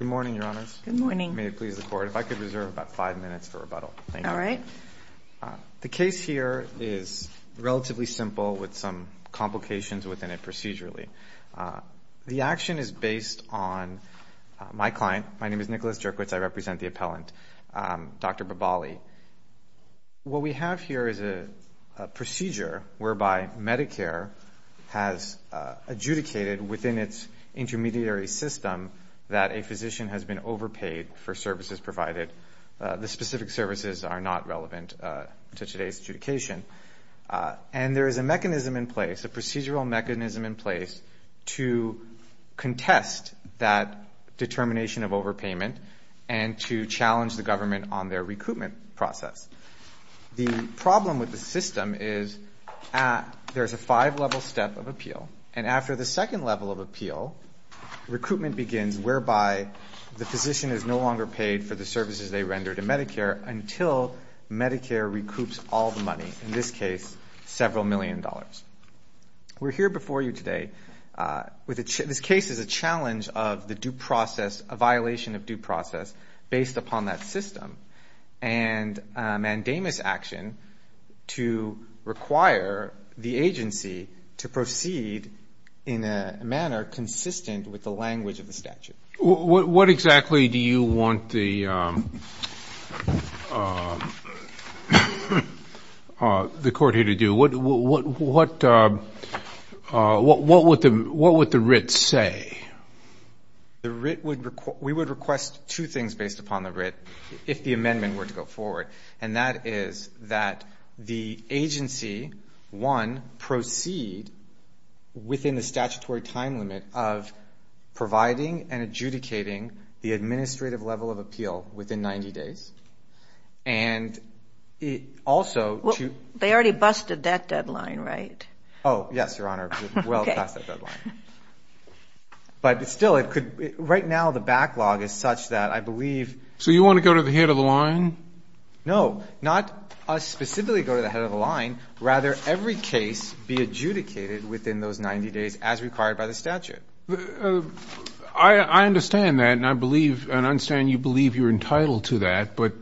Good morning, Your Honors. Good morning. May it please the Court, if I could reserve about five minutes for rebuttal. Thank you. All right. The case here is relatively simple with some complications within it procedurally. The action is based on my client. My name is Nicholas Jerkwitz. I represent the appellant, Dr. Babaali. What we have here is a procedure whereby Medicare has adjudicated within its intermediary system that a physician has been overpaid for services provided. The specific services are not relevant to today's adjudication. And there is a mechanism in place, a procedural mechanism in place to contest that determination of overpayment and to challenge the government on their recoupment process. The problem with the system is there is a five-level step of appeal. And after the second level of appeal, recoupment begins whereby the physician is no longer paid for the services they rendered to Medicare until Medicare recoups all the money, in this case, several million dollars. We're here before you today. This case is a challenge of the due process, a violation of due process based upon that system and a mandamus action to require the agency to proceed in a manner consistent with the language of the statute. What exactly do you want the Court here to do? What would the writ say? The writ would, we would request two things based upon the writ if the amendment were to go forward, and that is that the agency, one, proceed within the statutory time limit of providing and adjudicating the administrative level of appeal within 90 days. And also to Well, they already busted that deadline, right? Oh, yes, Your Honor. We're well past that deadline. But still it could, right now the backlog is such that I believe So you want to go to the head of the line? No, not us specifically go to the head of the line. Rather, every case be adjudicated within those 90 days as required by the statute. I understand that and I believe, and I understand you believe you're entitled to that, but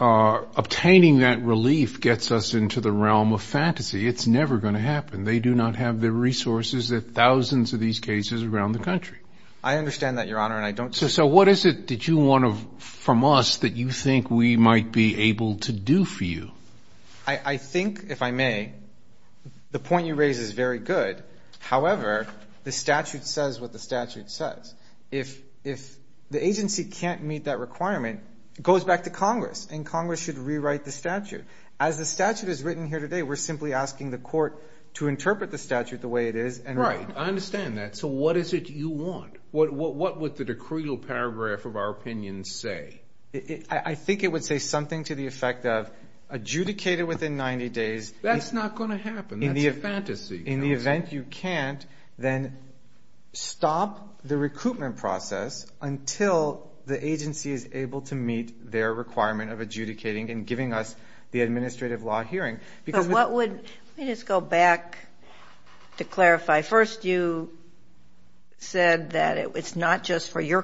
obtaining that relief gets us into the realm of fantasy. It's never going to happen. They do not have the resources that thousands of these cases around the country. I understand that, Your Honor, and I don't So what is it that you want from us that you think we might be able to do for you? I think, if I may, the point you raise is very good. However, the statute says what the statute says. If the agency can't meet that requirement, it goes back to Congress and Congress should rewrite the statute. As the statute is written here today, we're simply asking the court to interpret the statute the way it is and Right, I understand that. So what is it you want? What would the decreal paragraph of our opinion say? I think it would say something to the effect of adjudicate it within 90 days That's not going to happen. That's a fantasy. In the event you can't, then stop the recoupment process until the agency is able to meet their requirement of adjudicating and giving us the administrative law hearing. But what would, let me just go back to clarify. First, you said that it's not just for your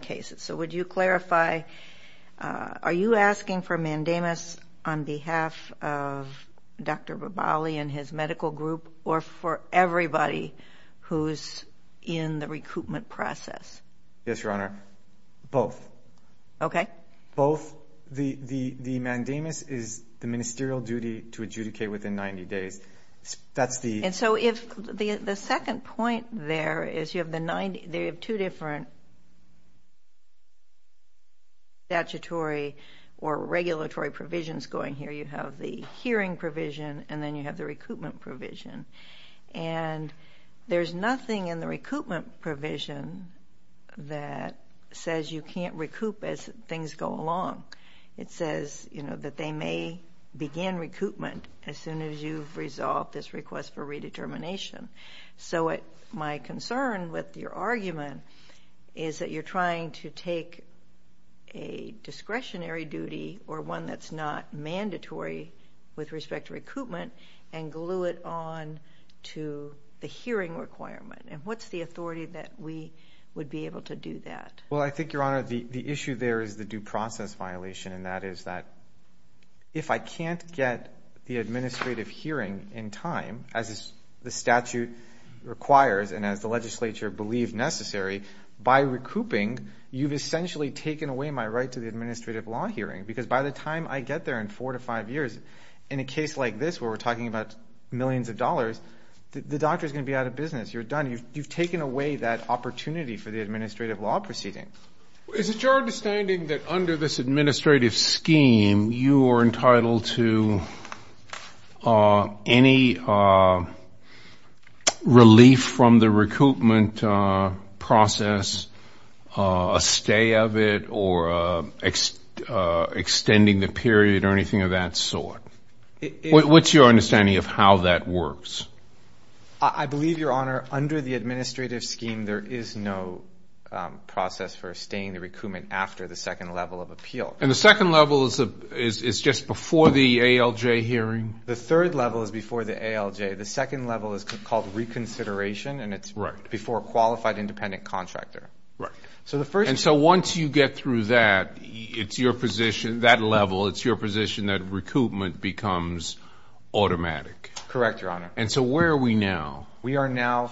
cases. So would you clarify, are you asking for mandamus on behalf of Dr. Rebali and his medical group or for everybody who's in the recoupment process? Yes, Your Honor. Both. Okay. Both. The mandamus is the ministerial duty to adjudicate within 90 days. That's the And so the second point there is you have two different statutory or regulatory provisions going here. You have the hearing provision and then you have the recoupment provision. And there's nothing in the recoupment provision that says you can't recoup as things go along. It says that they may begin recoupment as soon as you've resolved this request for redetermination. So my concern with your argument is that you're trying to take a discretionary duty or one that's not mandatory with respect to recoupment and glue it on to the hearing requirement. And what's the authority that we would be able to do that? Well, I think, Your Honor, the issue there is the due process violation and that is that if I can't get the administrative hearing in time, as the statute requires and as the legislature believed necessary, by recouping, you've essentially taken away my right to the administrative law hearing. Because by the time I get there in four to five years, in a case like this where we're talking about millions of dollars, the doctor's going to be out of business. You're done. You've taken away that opportunity for the administrative law proceeding. Is it your understanding that under this administrative scheme, you are entitled to any relief from the recoupment process, a stay of it or extending the period or anything of that sort? What's your understanding of how that works? I believe, Your Honor, under the administrative scheme, there is no process for staying the recoupment after the second level of appeal. And the second level is just before the ALJ hearing? The third level is before the ALJ. The second level is called reconsideration and it's before qualified independent contractor. And so once you get through that, it's your position, that level, it's your position that recoupment becomes automatic? Correct, Your Honor. And so where are we now? We are now,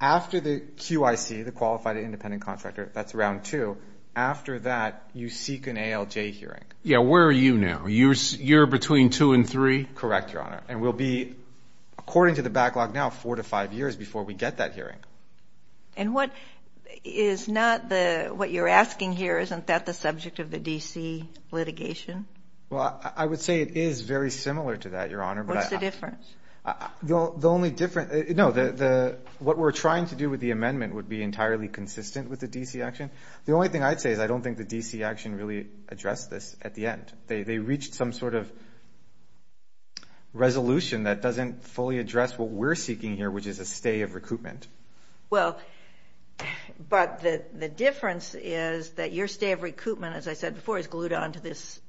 after the QIC, the Qualified Independent Contractor, that's round two, after that, you seek an ALJ hearing. Yeah, where are you now? You're between two and three? Correct, Your Honor. And we'll be, according to the backlog now, four to five years before we get that hearing. And what is not the, what you're asking here, isn't that the subject of the D.C. litigation? Well, I would say it is very similar to that, Your Honor. What's the difference? The only difference, no, what we're trying to do with the amendment would be entirely consistent with the D.C. action. The only thing I'd say is I don't think the D.C. action really addressed this at the end. They reached some sort of resolution that doesn't fully address what we're seeking here, which is a stay of recoupment. Well, but the difference is that your stay of recoupment, as I said before, is glued on to this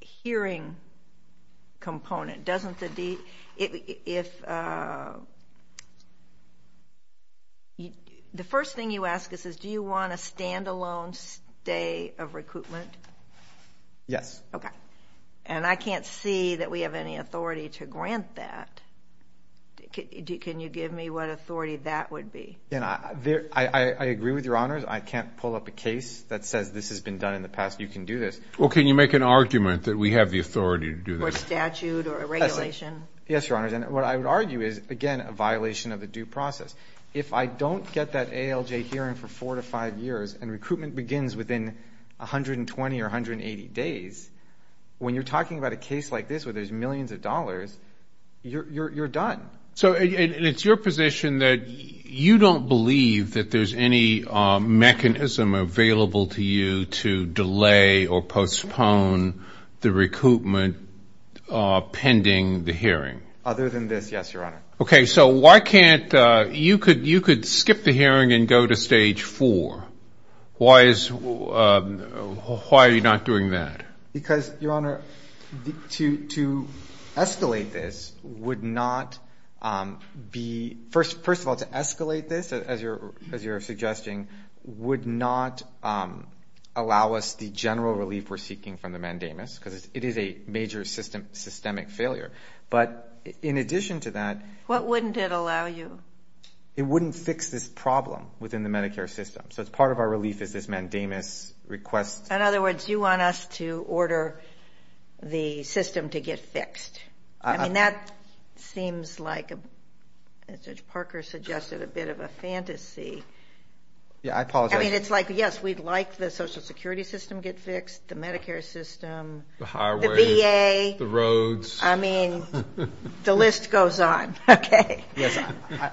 hearing component, doesn't the D.C. The first thing you ask us is do you want a standalone stay of recoupment? Yes. And I can't see that we have any authority to grant that. Can you give me what authority that would be? I agree with Your Honors. I can't pull up a case that says this has been done in the past. Well, can you make an argument that we have the authority to do this? Or statute or a regulation? Yes, Your Honors. And what I would argue is, again, a violation of the due process. If I don't get that ALJ hearing for four to five years and recoupment begins within 120 or 180 days, when you're talking about a case like this where there's millions of dollars, you're done. So it's your position that you don't believe that there's any mechanism available to you to delay or postpone the recoupment pending the hearing? Other than this, yes, Your Honor. Okay. So why can't you could skip the hearing and go to stage four. Why are you not doing that? Because, Your Honor, to escalate this would not be, first of all, to escalate this, as you're suggesting, would not allow us the general relief we're seeking from the mandamus because it is a major systemic failure. But in addition to that... What wouldn't it allow you? It wouldn't fix this problem within the Medicare system. So it's part of our relief is this mandamus requests... In other words, you want us to order the system to get fixed. I mean, that seems like, as you see... Yeah, I apologize. I mean, it's like, yes, we'd like the Social Security system to get fixed, the Medicare system... The highways. The VA. The roads. I mean, the list goes on. Okay. Yes.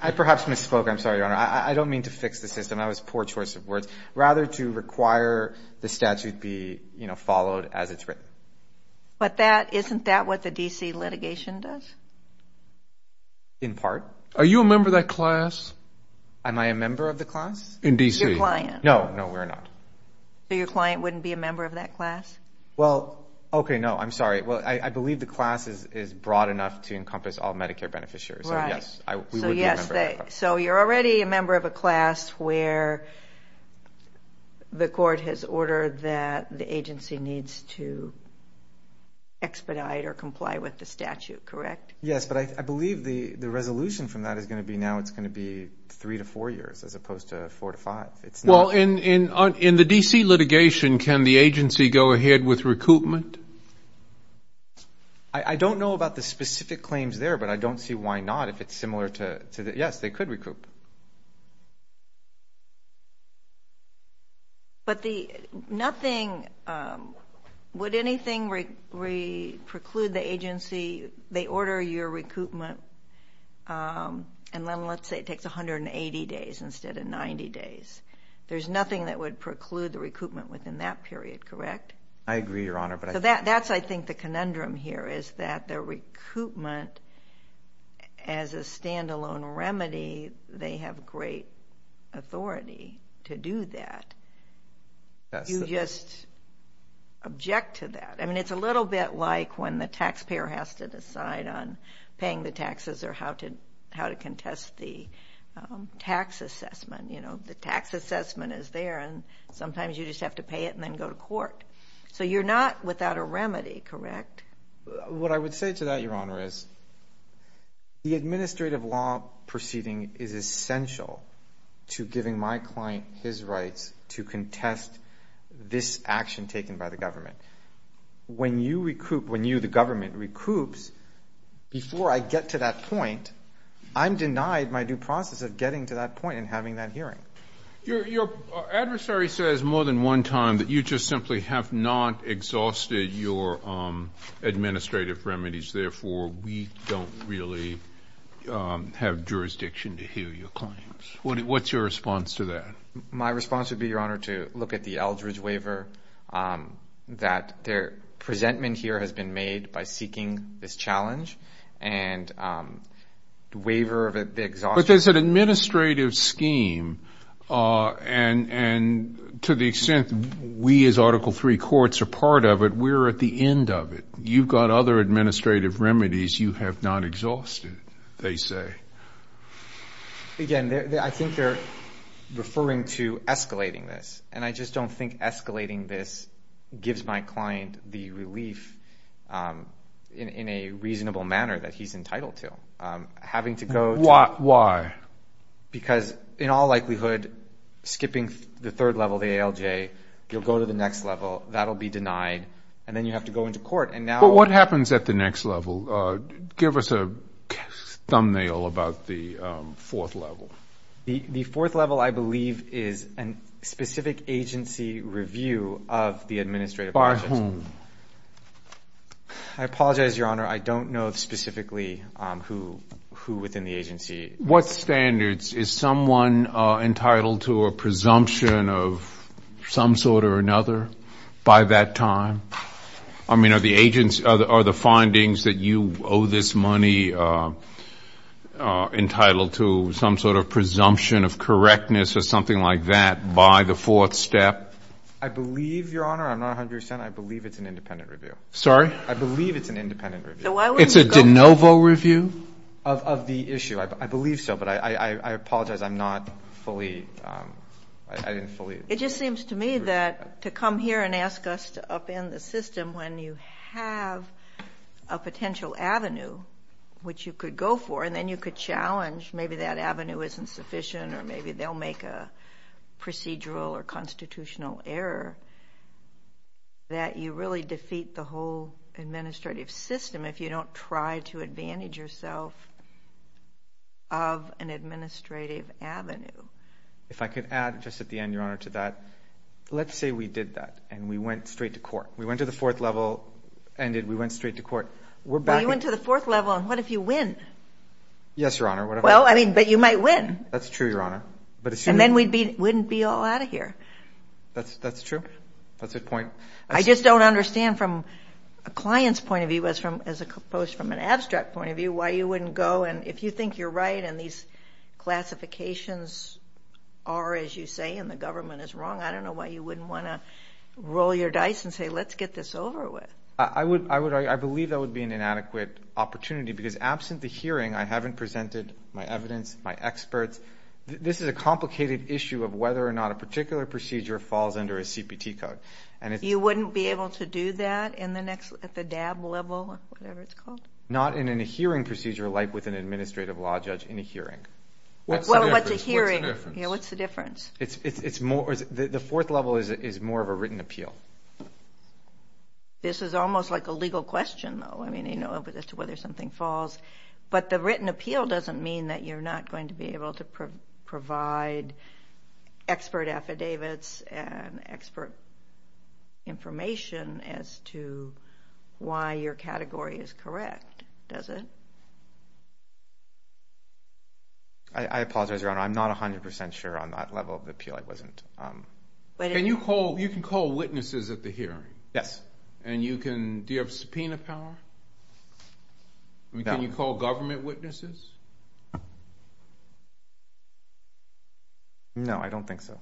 I perhaps misspoke. I'm sorry, Your Honor. I don't mean to fix the system. I was poor choice of words. Rather to require the statute be followed as it's written. But isn't that what the D.C. litigation does? In part. Are you a member of that class? Am I a member of the class? In D.C. Your client. No. No, we're not. So your client wouldn't be a member of that class? Well, okay, no. I'm sorry. Well, I believe the class is broad enough to encompass all Medicare beneficiaries. Right. So yes, we would be a member of that class. So you're already a member of a class where the court has ordered that the agency needs to expedite or comply with the statute, correct? Yes, but I believe the resolution from that is going to be now it's going to be three to four years as opposed to four to five. Well, in the D.C. litigation, can the agency go ahead with recoupment? I don't know about the specific claims there, but I don't see why not. If it's similar to that, yes, they could recoup. But would anything preclude the agency, they order your recoupment, and then let's say it takes 180 days instead of 90 days. There's nothing that would preclude the recoupment within that period, correct? I agree, Your Honor. So that's, I think, the conundrum here is that the recoupment as a standalone remedy they have great authority to do that. You just object to that. I mean, it's a little bit like when the taxpayer has to decide on paying the taxes or how to contest the tax assessment. You know, the tax assessment is there, and sometimes you just have to pay it and then go to court. So you're not without a remedy, correct? What I would say to that, Your Honor, is the administrative law proceeding is essential to giving my client his rights to contest this action taken by the government. When you recoup, when you, the government, recoups, before I get to that point, I'm denied my due process of getting to that point and having that hearing. Your adversary says more than one time that you just simply have not exhausted your administrative remedies. Therefore, we don't really have jurisdiction to hear your claims. What's your response to that? My response would be, Your Honor, to look at the Eldridge waiver, that their presentment here has been made by seeking this challenge, and the waiver of the exhaustion. But there's an administrative scheme, and to the extent we as Article III courts are part of it, we're at the end of it. You've got other administrative remedies you have not exhausted, they say. Again, I think they're referring to escalating this, and I just don't think escalating this gives my client the relief in a reasonable manner that he's entitled to. Having to go to the next level. Why? Because, in all likelihood, skipping the third level, the ALJ, you'll go to the next level, that'll be denied, and then you have to go into court, and now But what happens at the next level? Give us a thumbnail about the fourth level. The fourth level, I believe, is a specific agency review of the administrative By whom? I apologize, Your Honor, I don't know specifically who within the agency What standards? Is someone entitled to a presumption of some sort or another by that time? I mean, are the findings that you owe this money entitled to some sort of presumption of correctness or something like that by the fourth step? I believe, Your Honor, I'm not 100 percent, I believe it's an independent review. Sorry? I believe it's an independent review. So why wouldn't you go It's a de novo review of the issue. I believe so, but I apologize, I'm not fully It just seems to me that to come here and ask us to upend the system when you have a potential avenue which you could go for, and then you could challenge maybe that avenue isn't sufficient or maybe they'll make a procedural or constitutional error, that you really defeat the whole administrative system if you don't try to advantage yourself of an administrative avenue. If I could add just at the end, Your Honor, to that, let's say we did that and we went straight to court. We went to the fourth level, ended, we went straight to court, we're back Well, you went to the fourth level and what if you win? Yes, Your Honor. Well, I mean, but you might win. That's true, Your Honor. And then we wouldn't be all out of here. That's true. That's a good point. I just don't understand from a client's point of view as opposed to an abstract point of view why you wouldn't go and if you think you're right and these classifications are, as you say, and the government is wrong, I don't know why you wouldn't want to roll your dice and say let's get this over with. I believe that would be an inadequate opportunity because absent the hearing, I haven't presented my evidence, my experts. This is a complicated issue of whether or not a particular procedure falls under a CPT code. You wouldn't be able to do that at the DAB level or whatever it's called? Not in a hearing procedure like with an administrative law judge in a hearing. What's the difference? The fourth level is more of a written appeal. This is almost like a legal question, though, as to whether something falls. But the written appeal doesn't mean that you're not going to be able to provide expert affidavits and expert information as to why your category is correct, does it? I apologize, Your Honor. I'm not 100% sure on that level of appeal. I wasn't. You can call witnesses at the hearing? Yes. Do you have subpoena power? Can you call government witnesses? No, I don't think so.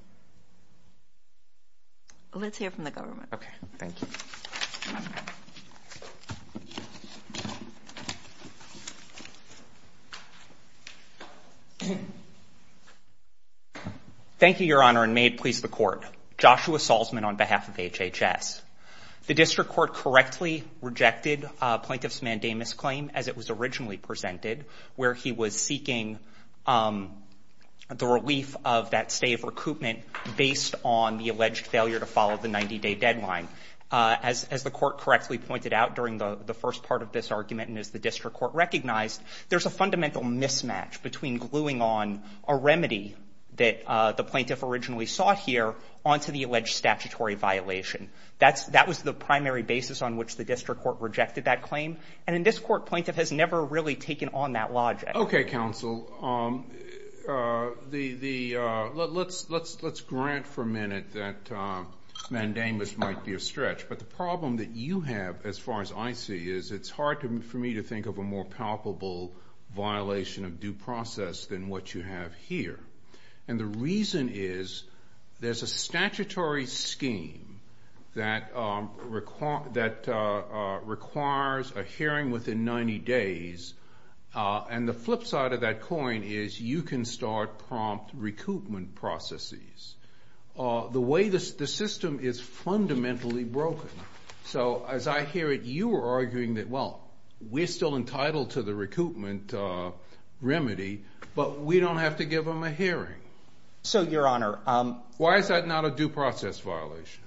Let's hear from the government. Okay, thank you. Thank you, Your Honor, and may it please the Court. Joshua Salzman on behalf of HHS. The District Court correctly rejected Plaintiff's Mandamus claim as it was originally presented, where he was seeking the relief of that stay of recoupment based on the alleged failure to follow the 90-day deadline. As the Court correctly pointed out during the first part of this argument and as the District Court recognized, there's a fundamental mismatch between gluing on a remedy that the plaintiff originally sought here onto the alleged statutory violation. That was the primary basis on which the District Court rejected that claim, and in this Court, Plaintiff has never really taken on that logic. Okay, Counsel. Let's grant for a minute that Mandamus might be a stretch, but the problem that you have, as far as I see it, is it's hard for me to think of a more palpable violation of due process than what you have here, and the reason is there's a statutory scheme that requires a hearing within 90 days, and the flip side of that coin is you can start prompt recoupment processes. The way the system is fundamentally broken. So as I hear it, you are arguing that, well, we're still entitled to the recoupment remedy, but we don't have to give them a hearing. So, Your Honor, Why is that not a due process violation?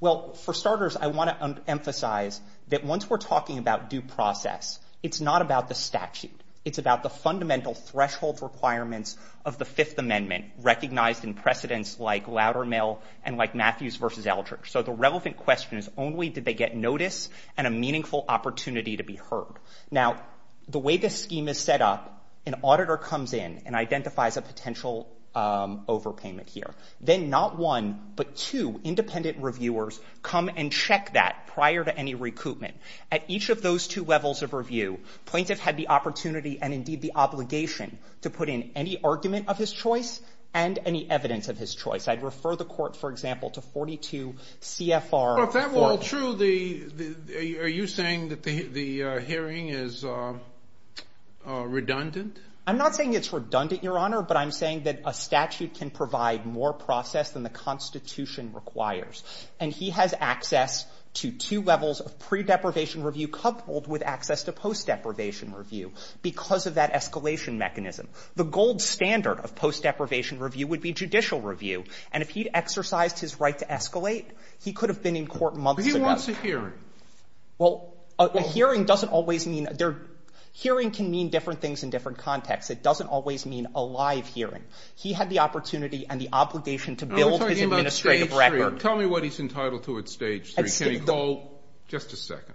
Well, for starters, I want to emphasize that once we're talking about due process, it's not about the statute. It's about the fundamental threshold requirements of the Fifth Amendment, recognized in precedents like Loudermill and like Matthews v. Eldridge. So the relevant question is only did they get notice and a meaningful opportunity to be heard. Now, the way this scheme is set up, an auditor comes in and identifies a potential overpayment here. Then not one, but two independent reviewers come and check that prior to any recoupment. At each of those two levels of review, plaintiff had the opportunity and, indeed, the obligation to put in any argument of his choice and any evidence of his choice. I'd refer the court, for example, to 42 CFR. Well, if that were true, are you saying that the hearing is redundant? I'm not saying it's redundant, Your Honor, but I'm saying that a statute can provide more process than the Constitution requires. And he has access to two levels of pre-deprivation review coupled with access to post-deprivation review because of that escalation mechanism. The gold standard of post-deprivation review would be judicial review. And if he'd exercised his right to escalate, he could have been in court months ago. But he wants a hearing. Well, a hearing doesn't always mean they're – hearing can mean different things in different contexts. It doesn't always mean a live hearing. He had the opportunity and the obligation to build his administrative record. But tell me what he's entitled to at Stage 3. Can he call – just a second.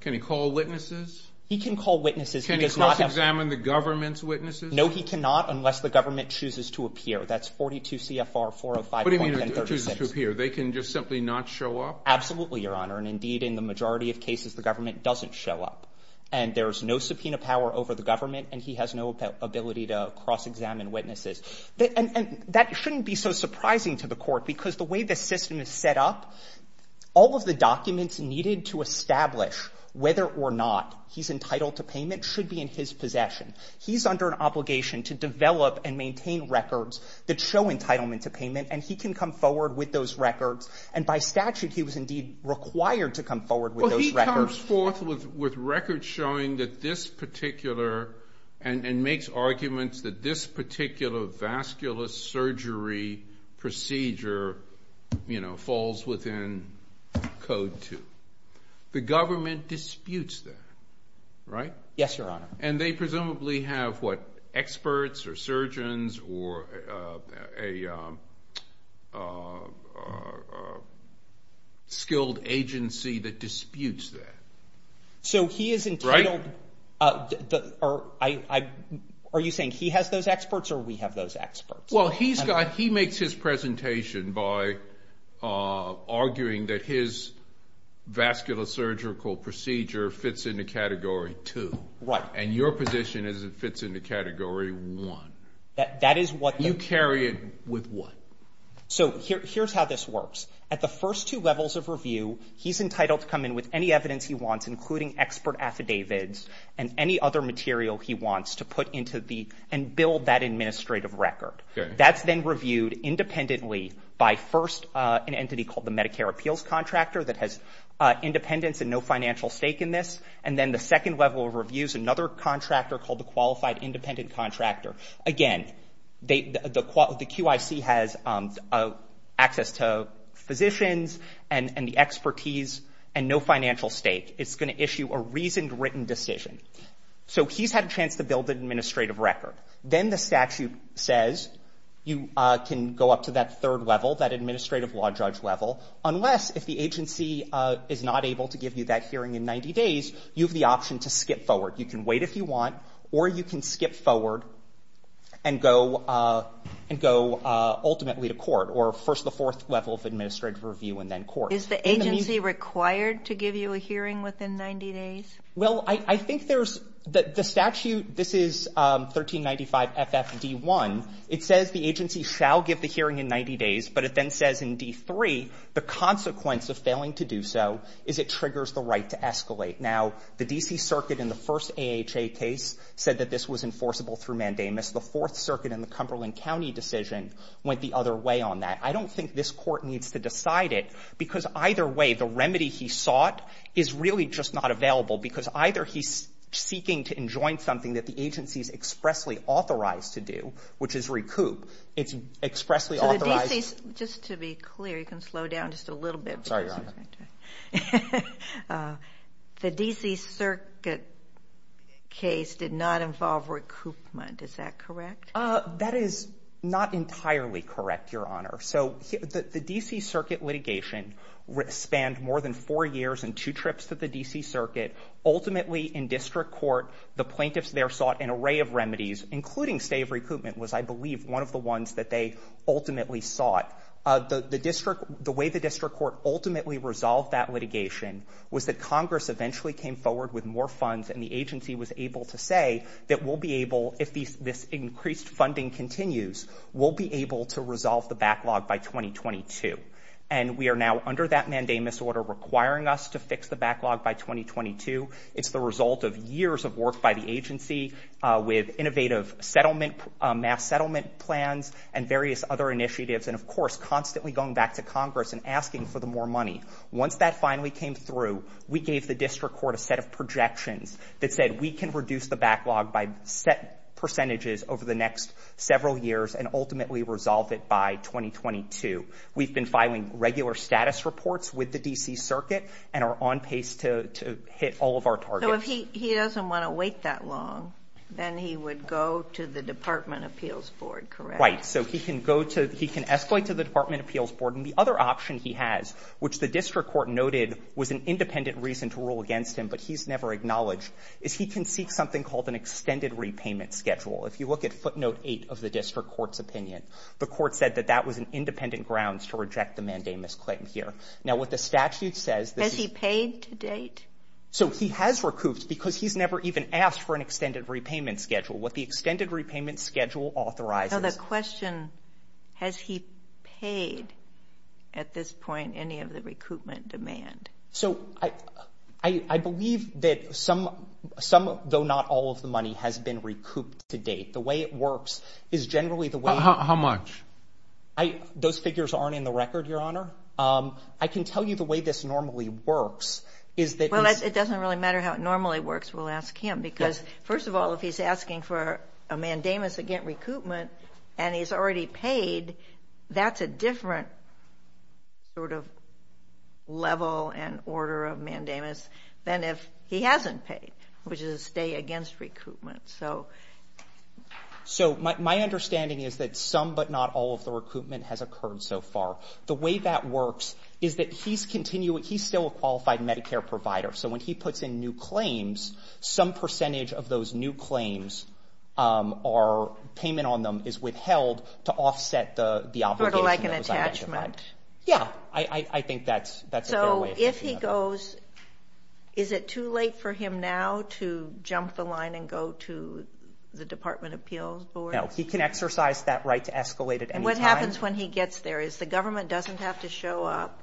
Can he call witnesses? He can call witnesses. Can he cross-examine the government's witnesses? No, he cannot unless the government chooses to appear. That's 42 CFR 405.1036. What do you mean it chooses to appear? They can just simply not show up? Absolutely, Your Honor. And, indeed, in the majority of cases, the government doesn't show up. And there's no subpoena power over the government, and he has no ability to cross-examine witnesses. And that shouldn't be so surprising to the court, because the way the system is set up, all of the documents needed to establish whether or not he's entitled to payment should be in his possession. He's under an obligation to develop and maintain records that show entitlement to payment, and he can come forward with those records. And by statute, he was, indeed, required to come forward with those records. He comes forth with records showing that this particular, and makes arguments that this particular vascular surgery procedure, you know, falls within Code 2. The government disputes that, right? Yes, Your Honor. And they presumably have, what, experts or surgeons or a skilled agency that disputes that, right? So he is entitled, are you saying he has those experts or we have those experts? Well, he makes his presentation by arguing that his vascular surgical procedure fits into Category 2. Right. And your position is it fits into Category 1. That is what the You carry it with what? So here's how this works. At the first two levels of review, he's entitled to come in with any evidence he wants, including expert affidavits and any other material he wants to put into the, and build that administrative record. That's then reviewed independently by, first, an entity called the Medicare appeals contractor that has independence and no financial stake in this. And then the second level of review is another contractor called the Qualified Independent Contractor. Again, the QIC has access to physicians and the expertise and no financial stake. It's going to issue a reasoned, written decision. So he's had a chance to build an administrative record. Then the statute says you can go up to that third level, that administrative law judge level, unless if the agency is not able to give you that hearing in 90 days, you have the option to skip forward. You can wait if you want, or you can skip forward and go ultimately to court, or first the fourth level of administrative review and then court. Is the agency required to give you a hearing within 90 days? Well, I think there's the statute. This is 1395 FFD1. It says the agency shall give the hearing in 90 days, but it then says in D3 the consequence of failing to do so is it triggers the right to escalate. Now, the D.C. Circuit in the first AHA case said that this was enforceable through mandamus. The Fourth Circuit in the Cumberland County decision went the other way on that. I don't think this Court needs to decide it, because either way the remedy he sought is really just not available, because either he's seeking to enjoin something that the agency is expressly authorized to do, which is recoup. It's expressly authorized. Just to be clear, you can slow down just a little bit. Sorry, Your Honor. The D.C. Circuit case did not involve recoupment. Is that correct? That is not entirely correct, Your Honor. So the D.C. Circuit litigation spanned more than four years and two trips to the D.C. Circuit. Ultimately, in district court, the plaintiffs there sought an array of remedies, including stay of recoupment was, I believe, one of the ones that they ultimately sought. The way the district court ultimately resolved that litigation was that Congress eventually came forward with more funds and the agency was able to say that we'll be able, if this increased funding continues, we'll be able to resolve the backlog by 2022. And we are now under that mandamus order requiring us to fix the backlog by 2022. It's the result of years of work by the agency with innovative settlement, mass settlement plans and various other initiatives and, of course, constantly going back to Congress and asking for the more money. Once that finally came through, we gave the district court a set of projections that said we can reduce the backlog by set percentages over the next several years and ultimately resolve it by 2022. We've been filing regular status reports with the D.C. Circuit and are on pace to hit all of our targets. So if he doesn't want to wait that long, then he would go to the Department of Appeals Board, correct? Right. So he can go to, he can escalate to the Department of Appeals Board. And the other option he has, which the district court noted was an independent reason to rule against him, but he's never acknowledged, is he can seek something called an extended repayment schedule. If you look at footnote eight of the district court's opinion, the court said that that was an independent grounds to reject the mandamus claim here. Now, what the statute says. Has he paid to date? So he has recouped because he's never even asked for an extended repayment schedule. What the extended repayment schedule authorizes. The question, has he paid at this point any of the recoupment demand? So I believe that some, some, though not all of the money has been recouped to date. The way it works is generally the way. How much? Those figures aren't in the record, Your Honor. I can tell you the way this normally works is that. Well, it doesn't really matter how it normally works, we'll ask him. Because first of all, if he's asking for a mandamus against recoupment and he's already paid, that's a different sort of level and order of mandamus than if he hasn't paid, which is a stay against recoupment. So my understanding is that some but not all of the recoupment has occurred so far. The way that works is that he's continuing, he's still a qualified Medicare provider. So when he puts in new claims, some percentage of those new claims or payment on them is withheld to offset the obligation. Sort of like an attachment. Yeah, I think that's a fair way. But if he goes, is it too late for him now to jump the line and go to the Department of Appeals board? No, he can exercise that right to escalate at any time. And what happens when he gets there? Is the government doesn't have to show up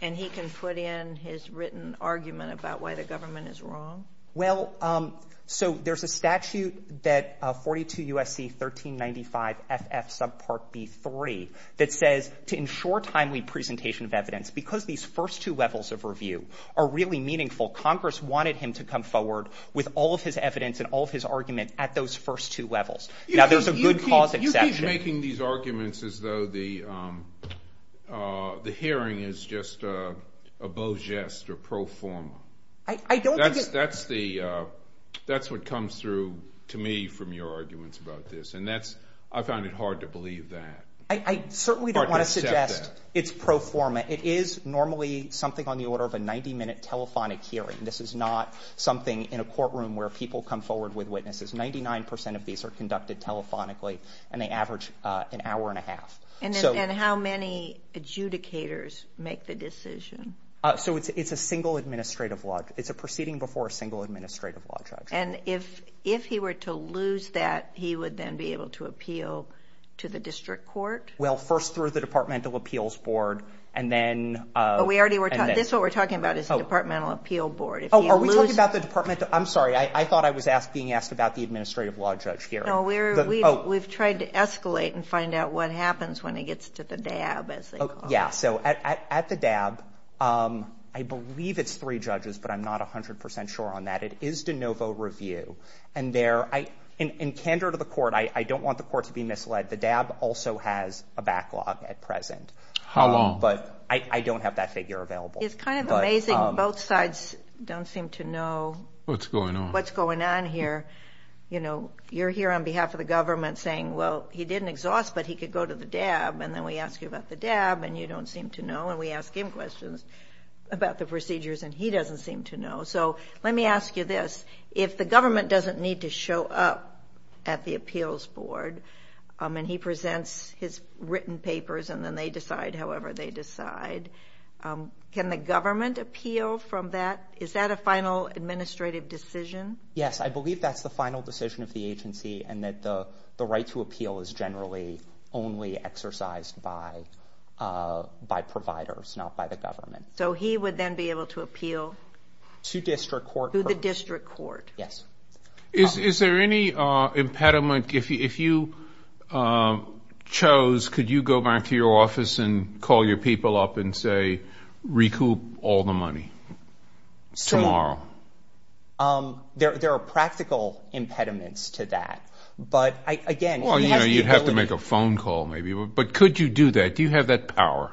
and he can put in his written argument about why the government is wrong? Well, so there's a statute that 42 U.S.C. 1395 FF subpart B3 that says to ensure timely presentation of evidence because these first two levels of review are really meaningful. Congress wanted him to come forward with all of his evidence and all of his argument at those first two levels. Now there's a good cause exception. You keep making these arguments as though the hearing is just a bogest or pro forma. That's what comes through to me from your arguments about this. And I found it hard to believe that. I certainly don't want to suggest it's pro forma. It is normally something on the order of a 90 minute telephonic hearing. This is not something in a courtroom where people come forward with witnesses. Ninety nine percent of these are conducted telephonically and they average an hour and a half. And how many adjudicators make the decision? So it's a single administrative law. It's a proceeding before a single administrative law judge. And if if he were to lose that, he would then be able to appeal to the district court. Well, first through the Departmental Appeals Board. And then we already were. That's what we're talking about is the Departmental Appeal Board. Are we talking about the department? I'm sorry. I thought I was being asked about the administrative law judge here. We've tried to escalate and find out what happens when it gets to the DAB. Yeah. So at the DAB, I believe it's three judges, but I'm not 100 percent sure on that. It is de novo review. And there I in candor to the court, I don't want the court to be misled. The DAB also has a backlog at present. How long? But I don't have that figure available. It's kind of amazing. Both sides don't seem to know what's going on here. You know, you're here on behalf of the government saying, well, he didn't exhaust, but he could go to the DAB. And then we ask you about the DAB and you don't seem to know. And we ask him questions about the procedures and he doesn't seem to know. So let me ask you this. If the government doesn't need to show up at the appeals board and he presents his written papers and then they decide however they decide, can the government appeal from that? Is that a final administrative decision? Yes. I believe that's the final decision of the agency and that the right to appeal is generally only exercised by providers, not by the government. So he would then be able to appeal? To district court. To the district court. Yes. Is there any impediment? If you chose, could you go back to your office and call your people up and say recoup all the money tomorrow? There are practical impediments to that. But, again, he has the ability. Well, you know, you'd have to make a phone call maybe. But could you do that? Do you have that power?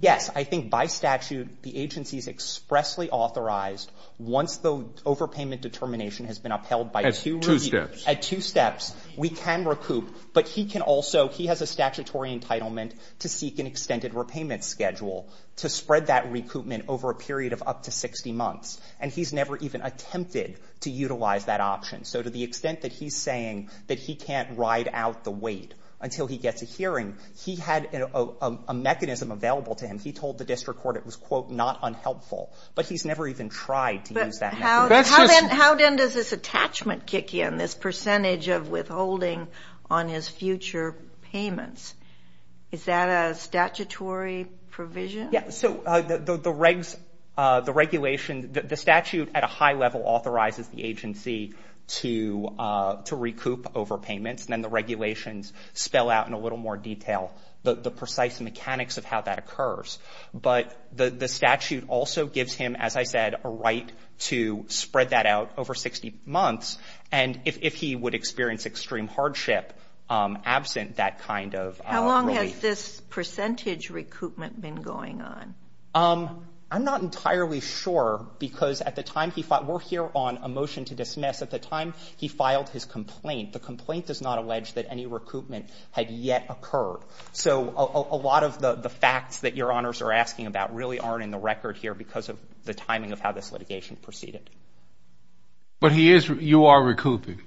Yes. I think by statute the agency is expressly authorized once the overpayment determination has been upheld. At two steps. At two steps. We can recoup. But he can also, he has a statutory entitlement to seek an extended repayment schedule to spread that recoupment over a period of up to 60 months. And he's never even attempted to utilize that option. So to the extent that he's saying that he can't ride out the wait until he gets a hearing, he had a mechanism available to him. He told the district court it was, quote, not unhelpful. But he's never even tried to use that mechanism. How then does this attachment kick in, this percentage of withholding on his future payments? Is that a statutory provision? Yes. So the regulation, the statute at a high level authorizes the agency to recoup overpayments. And then the regulations spell out in a little more detail the precise mechanics of how that occurs. But the statute also gives him, as I said, a right to spread that out over 60 months. And if he would experience extreme hardship absent that kind of relief. How long has this percentage recoupment been going on? I'm not entirely sure because at the time he filed, we're here on a motion to dismiss. At the time he filed his complaint. The complaint does not allege that any recoupment had yet occurred. So a lot of the facts that Your Honors are asking about really aren't in the record here because of the timing of how this litigation proceeded. But he is, you are recouping?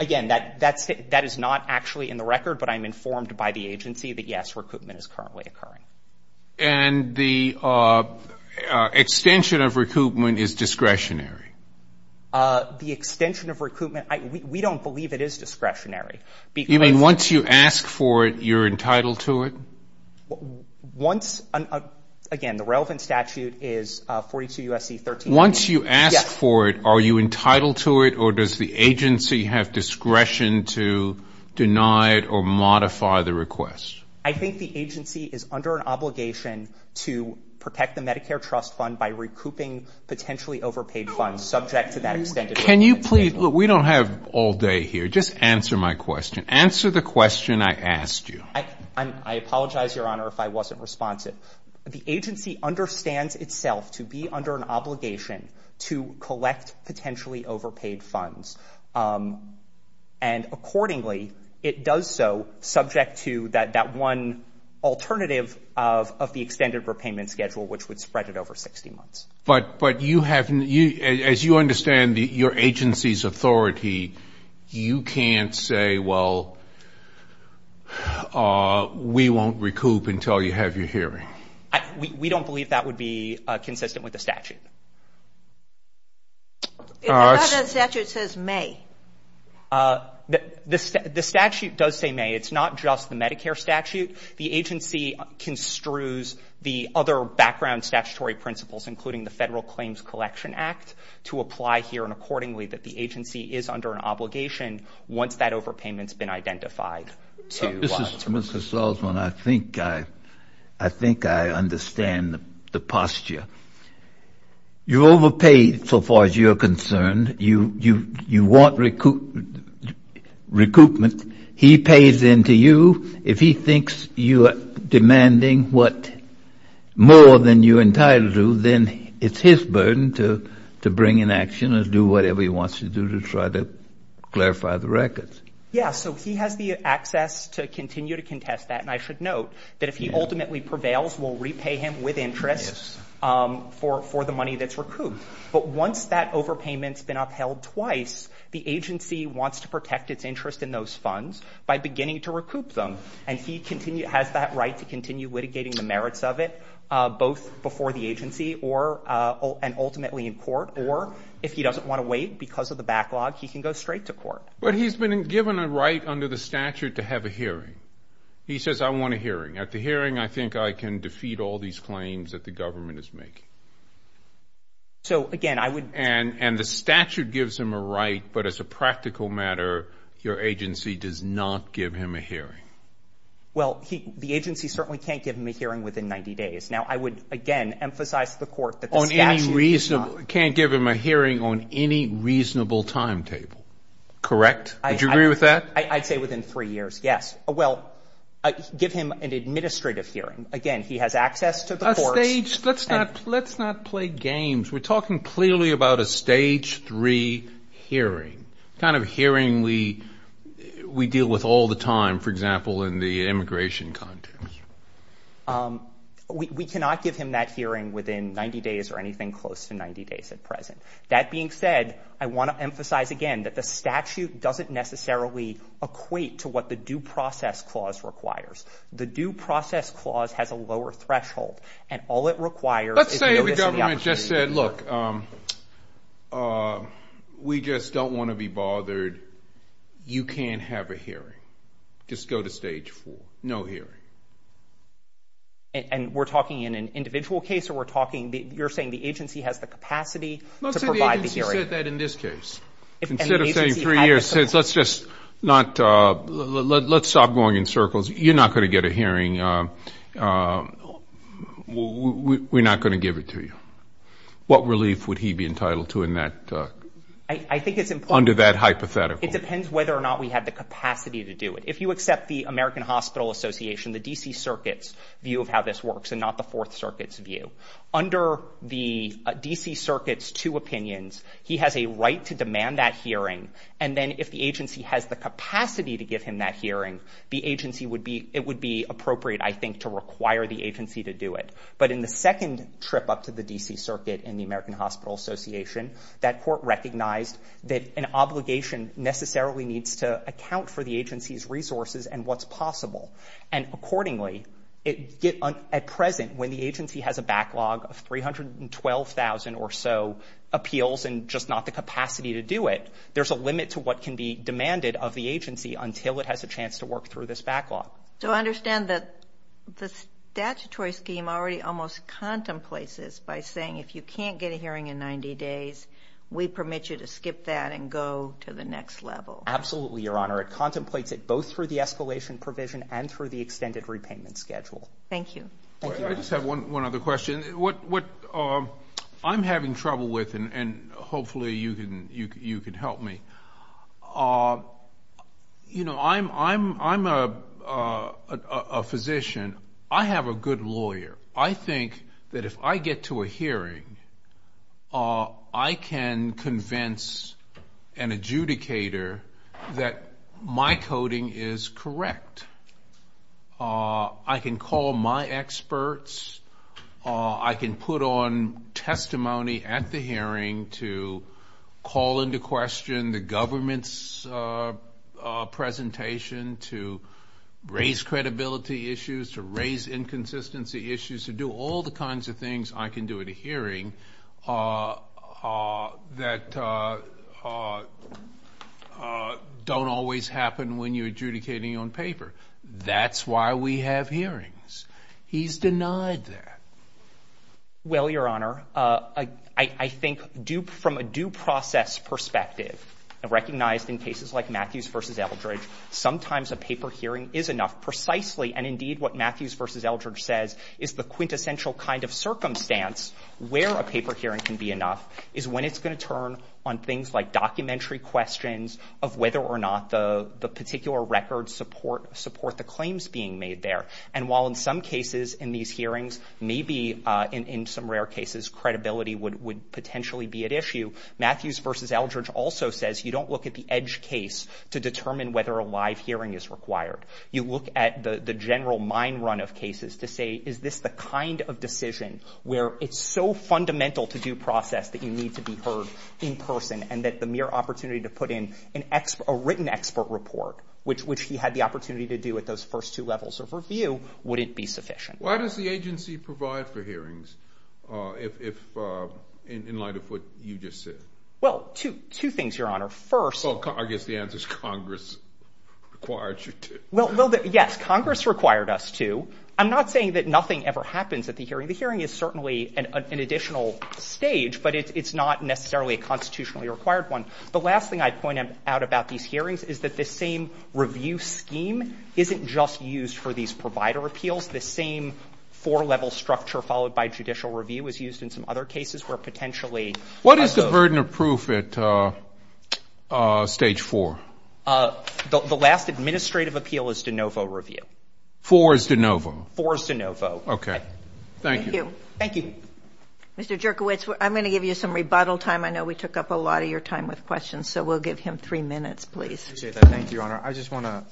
Again, that is not actually in the record. But I'm informed by the agency that, yes, recoupment is currently occurring. And the extension of recoupment is discretionary? The extension of recoupment, we don't believe it is discretionary. You mean once you ask for it, you're entitled to it? Once, again, the relevant statute is 42 U.S.C. 13. Once you ask for it, are you entitled to it? Or does the agency have discretion to deny it or modify the request? I think the agency is under an obligation to protect the Medicare trust fund by recouping potentially overpaid funds subject to that extended repayment schedule. We don't have all day here. Just answer my question. Answer the question I asked you. I apologize, Your Honor, if I wasn't responsive. The agency understands itself to be under an obligation to collect potentially overpaid funds. And accordingly, it does so subject to that one alternative of the extended repayment schedule, which would spread it over 60 months. But you have, as you understand, your agency's authority, you can't say, well, we won't recoup until you have your hearing. We don't believe that would be consistent with the statute. The statute says may. The statute does say may. It's not just the Medicare statute. The agency construes the other background statutory principles, including the Federal Claims Collection Act, to apply here and accordingly that the agency is under an obligation once that overpayment has been identified to recoup. Mr. Salzman, I think I understand the posture. You overpaid so far as you're concerned. You want recoupment. He pays into you. If he thinks you are demanding more than you're entitled to, then it's his burden to bring in action or do whatever he wants to do to try to clarify the records. Yeah, so he has the access to continue to contest that. And I should note that if he ultimately prevails, we'll repay him with interest for the money that's recouped. But once that overpayment's been upheld twice, the agency wants to protect its interest in those funds by beginning to recoup them. And he has that right to continue litigating the merits of it, both before the agency and ultimately in court. Or if he doesn't want to wait because of the backlog, he can go straight to court. But he's been given a right under the statute to have a hearing. He says, I want a hearing. At the hearing, I think I can defeat all these claims that the government is making. So, again, I would— Well, the agency certainly can't give him a hearing within 90 days. Now, I would, again, emphasize to the court that the statute does not— Can't give him a hearing on any reasonable timetable, correct? Would you agree with that? I'd say within three years, yes. Well, give him an administrative hearing. Again, he has access to the courts. Let's not play games. We're talking clearly about a Stage 3 hearing, a kind of hearing we deal with all the time, for example, in the immigration context. We cannot give him that hearing within 90 days or anything close to 90 days at present. That being said, I want to emphasize again that the statute doesn't necessarily equate to what the due process clause requires. The due process clause has a lower threshold, and all it requires is notice of the opportunity. Instead, look, we just don't want to be bothered. You can't have a hearing. Just go to Stage 4. No hearing. And we're talking in an individual case, or we're talking—you're saying the agency has the capacity to provide the hearing? Let's say the agency said that in this case. Instead of saying three years, let's just not—let's stop going in circles. You're not going to get a hearing. We're not going to give it to you. What relief would he be entitled to in that— I think it's important— —under that hypothetical. It depends whether or not we have the capacity to do it. If you accept the American Hospital Association, the D.C. Circuit's view of how this works and not the Fourth Circuit's view, under the D.C. Circuit's two opinions, he has a right to demand that hearing, and then if the agency has the capacity to give him that hearing, the agency would be—it would be appropriate, I think, to require the agency to do it. But in the second trip up to the D.C. Circuit and the American Hospital Association, that court recognized that an obligation necessarily needs to account for the agency's resources and what's possible. And accordingly, at present, when the agency has a backlog of 312,000 or so appeals and just not the capacity to do it, there's a limit to what can be demanded of the agency until it has a chance to work through this backlog. So I understand that the statutory scheme already almost contemplates this by saying, if you can't get a hearing in 90 days, we permit you to skip that and go to the next level. Absolutely, Your Honor. It contemplates it both through the escalation provision and through the extended repayment schedule. Thank you. I just have one other question. I'm having trouble with, and hopefully you can help me. You know, I'm a physician. I have a good lawyer. I think that if I get to a hearing, I can convince an adjudicator that my coding is correct. I can call my experts. I can put on testimony at the hearing to call into question the government's presentation, to raise credibility issues, to raise inconsistency issues, to do all the kinds of things I can do at a hearing that don't always happen when you're adjudicating on paper. That's why we have hearings. He's denied that. Well, Your Honor, I think from a due process perspective, recognized in cases like Matthews v. Eldridge, sometimes a paper hearing is enough precisely. And indeed, what Matthews v. Eldridge says is the quintessential kind of circumstance where a paper hearing can be enough is when it's going to turn on things like documentary questions of whether or not the particular records support the claims being made there. And while in some cases in these hearings, maybe in some rare cases, credibility would potentially be at issue, Matthews v. Eldridge also says you don't look at the edge case to determine whether a live hearing is required. You look at the general mind run of cases to say, is this the kind of decision where it's so fundamental to due process that you need to be heard in person and that the mere opportunity to put in a written expert report, which he had the opportunity to do at those first two levels of review, wouldn't be sufficient. Why does the agency provide for hearings in light of what you just said? Well, two things, Your Honor. First, I guess the answer is Congress required you to. Yes, Congress required us to. I'm not saying that nothing ever happens at the hearing. The hearing is certainly an additional stage, but it's not necessarily a constitutionally required one. The last thing I'd point out about these hearings is that this same review scheme isn't just used for these provider appeals. This same four-level structure followed by judicial review is used in some other cases where potentially those. What is the burden of proof at stage 4? The last administrative appeal is de novo review. 4 is de novo? 4 is de novo. Okay. Thank you. Thank you. Mr. Jerkowitz, I'm going to give you some rebuttal time. I know we took up a lot of your time with questions, so we'll give him 3 minutes, please. I appreciate that. Thank you, Your Honor. I just want to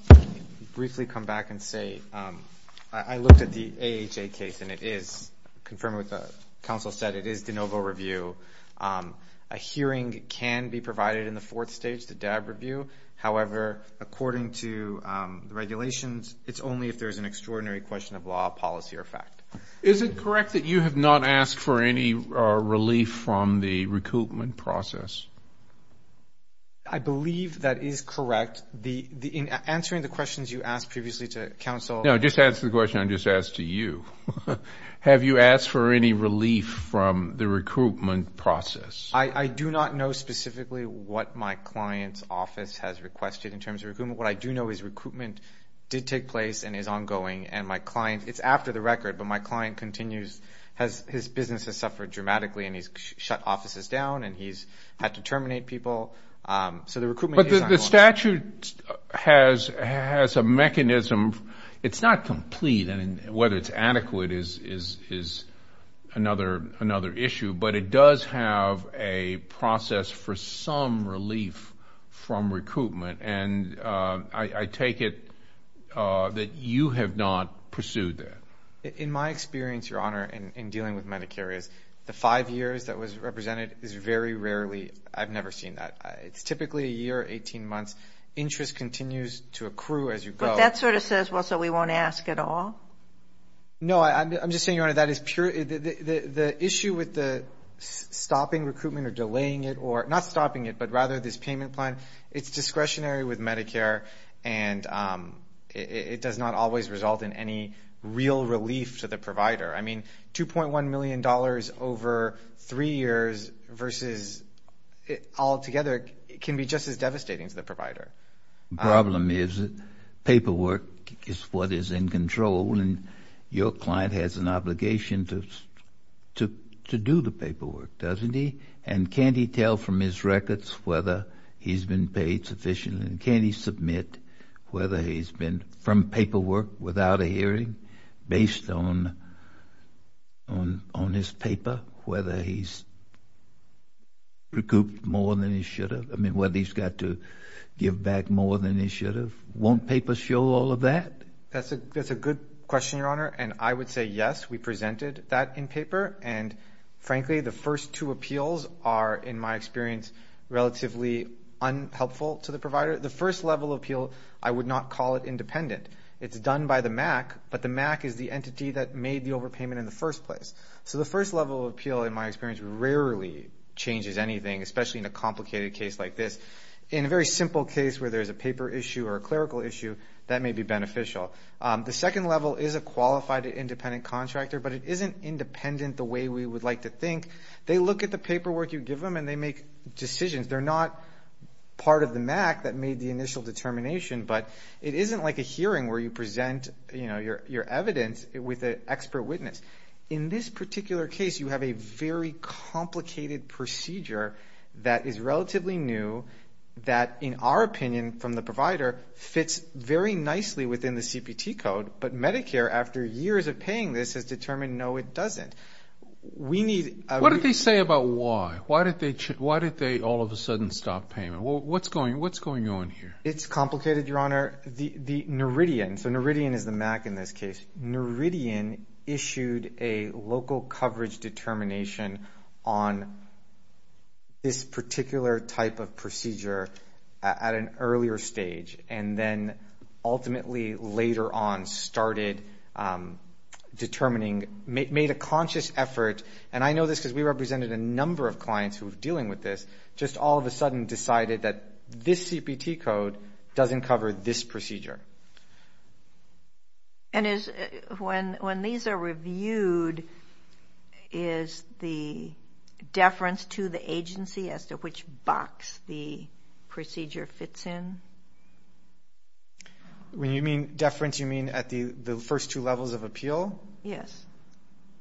briefly come back and say I looked at the AHA case, and it is, confirming what the counsel said, it is de novo review. A hearing can be provided in the fourth stage, the DAB review. However, according to regulations, it's only if there's an extraordinary question of law, policy, or fact. Is it correct that you have not asked for any relief from the recoupment process? I believe that is correct. In answering the questions you asked previously to counsel. No, just answer the question I just asked to you. Have you asked for any relief from the recoupment process? I do not know specifically what my client's office has requested in terms of recoupment. What I do know is recoupment did take place and is ongoing, and my client, it's after the record, but my client continues, his business has suffered dramatically, and he's shut offices down, and he's had to terminate people, so the recoupment is ongoing. The statute has a mechanism. It's not complete, and whether it's adequate is another issue, but it does have a process for some relief from recoupment, and I take it that you have not pursued that. In my experience, Your Honor, in dealing with Medicare, the five years that was represented is very rarely, I've never seen that. It's typically a year, 18 months. Interest continues to accrue as you go. But that sort of says, well, so we won't ask at all? No, I'm just saying, Your Honor, that is purely the issue with the stopping recoupment or delaying it or not stopping it, but rather this payment plan, it's discretionary with Medicare, and it does not always result in any real relief to the provider. I mean, $2.1 million over three years versus altogether can be just as devastating to the provider. The problem is that paperwork is what is in control, and your client has an obligation to do the paperwork, doesn't he? And can't he tell from his records whether he's been paid sufficiently? And can he submit whether he's been from paperwork without a hearing based on his paper, whether he's recouped more than he should have, I mean whether he's got to give back more than he should have? Won't paper show all of that? That's a good question, Your Honor, and I would say yes, we presented that in paper, and frankly, the first two appeals are, in my experience, relatively unhelpful to the provider. The first level appeal, I would not call it independent. It's done by the MAC, but the MAC is the entity that made the overpayment in the first place. So the first level appeal, in my experience, rarely changes anything, especially in a complicated case like this. In a very simple case where there's a paper issue or a clerical issue, that may be beneficial. The second level is a qualified independent contractor, but it isn't independent the way we would like to think. They look at the paperwork you give them, and they make decisions. They're not part of the MAC that made the initial determination, but it isn't like a hearing where you present your evidence with an expert witness. In this particular case, you have a very complicated procedure that is relatively new, that, in our opinion, from the provider, fits very nicely within the CPT code, but Medicare, after years of paying this, has determined, no, it doesn't. What did they say about why? Why did they all of a sudden stop paying? What's going on here? It's complicated, Your Honor. The Noridian, so Noridian is the MAC in this case. Noridian issued a local coverage determination on this particular type of procedure at an earlier stage and then ultimately later on started determining, made a conscious effort, and I know this because we represented a number of clients who were dealing with this, just all of a sudden decided that this CPT code doesn't cover this procedure. When these are reviewed, is the deference to the agency as to which box the procedure fits in? When you mean deference, you mean at the first two levels of appeal? Yes.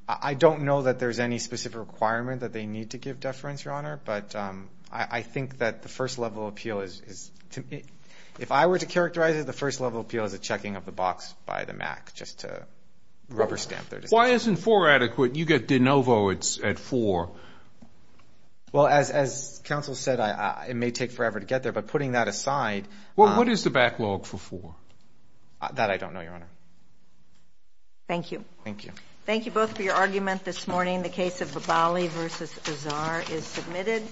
I don't know that there's any specific requirement that they need to give deference, Your Honor, but I think that the first level of appeal is to me. If I were to characterize it, the first level of appeal is a checking of the box by the MAC, just to rubber stamp their decision. Why isn't four adequate? You get de novo at four. Well, as counsel said, it may take forever to get there, but putting that aside. Well, what is the backlog for four? That I don't know, Your Honor. Thank you. Thank you. Thank you both for your argument this morning. The case of Babali v. Azar is submitted.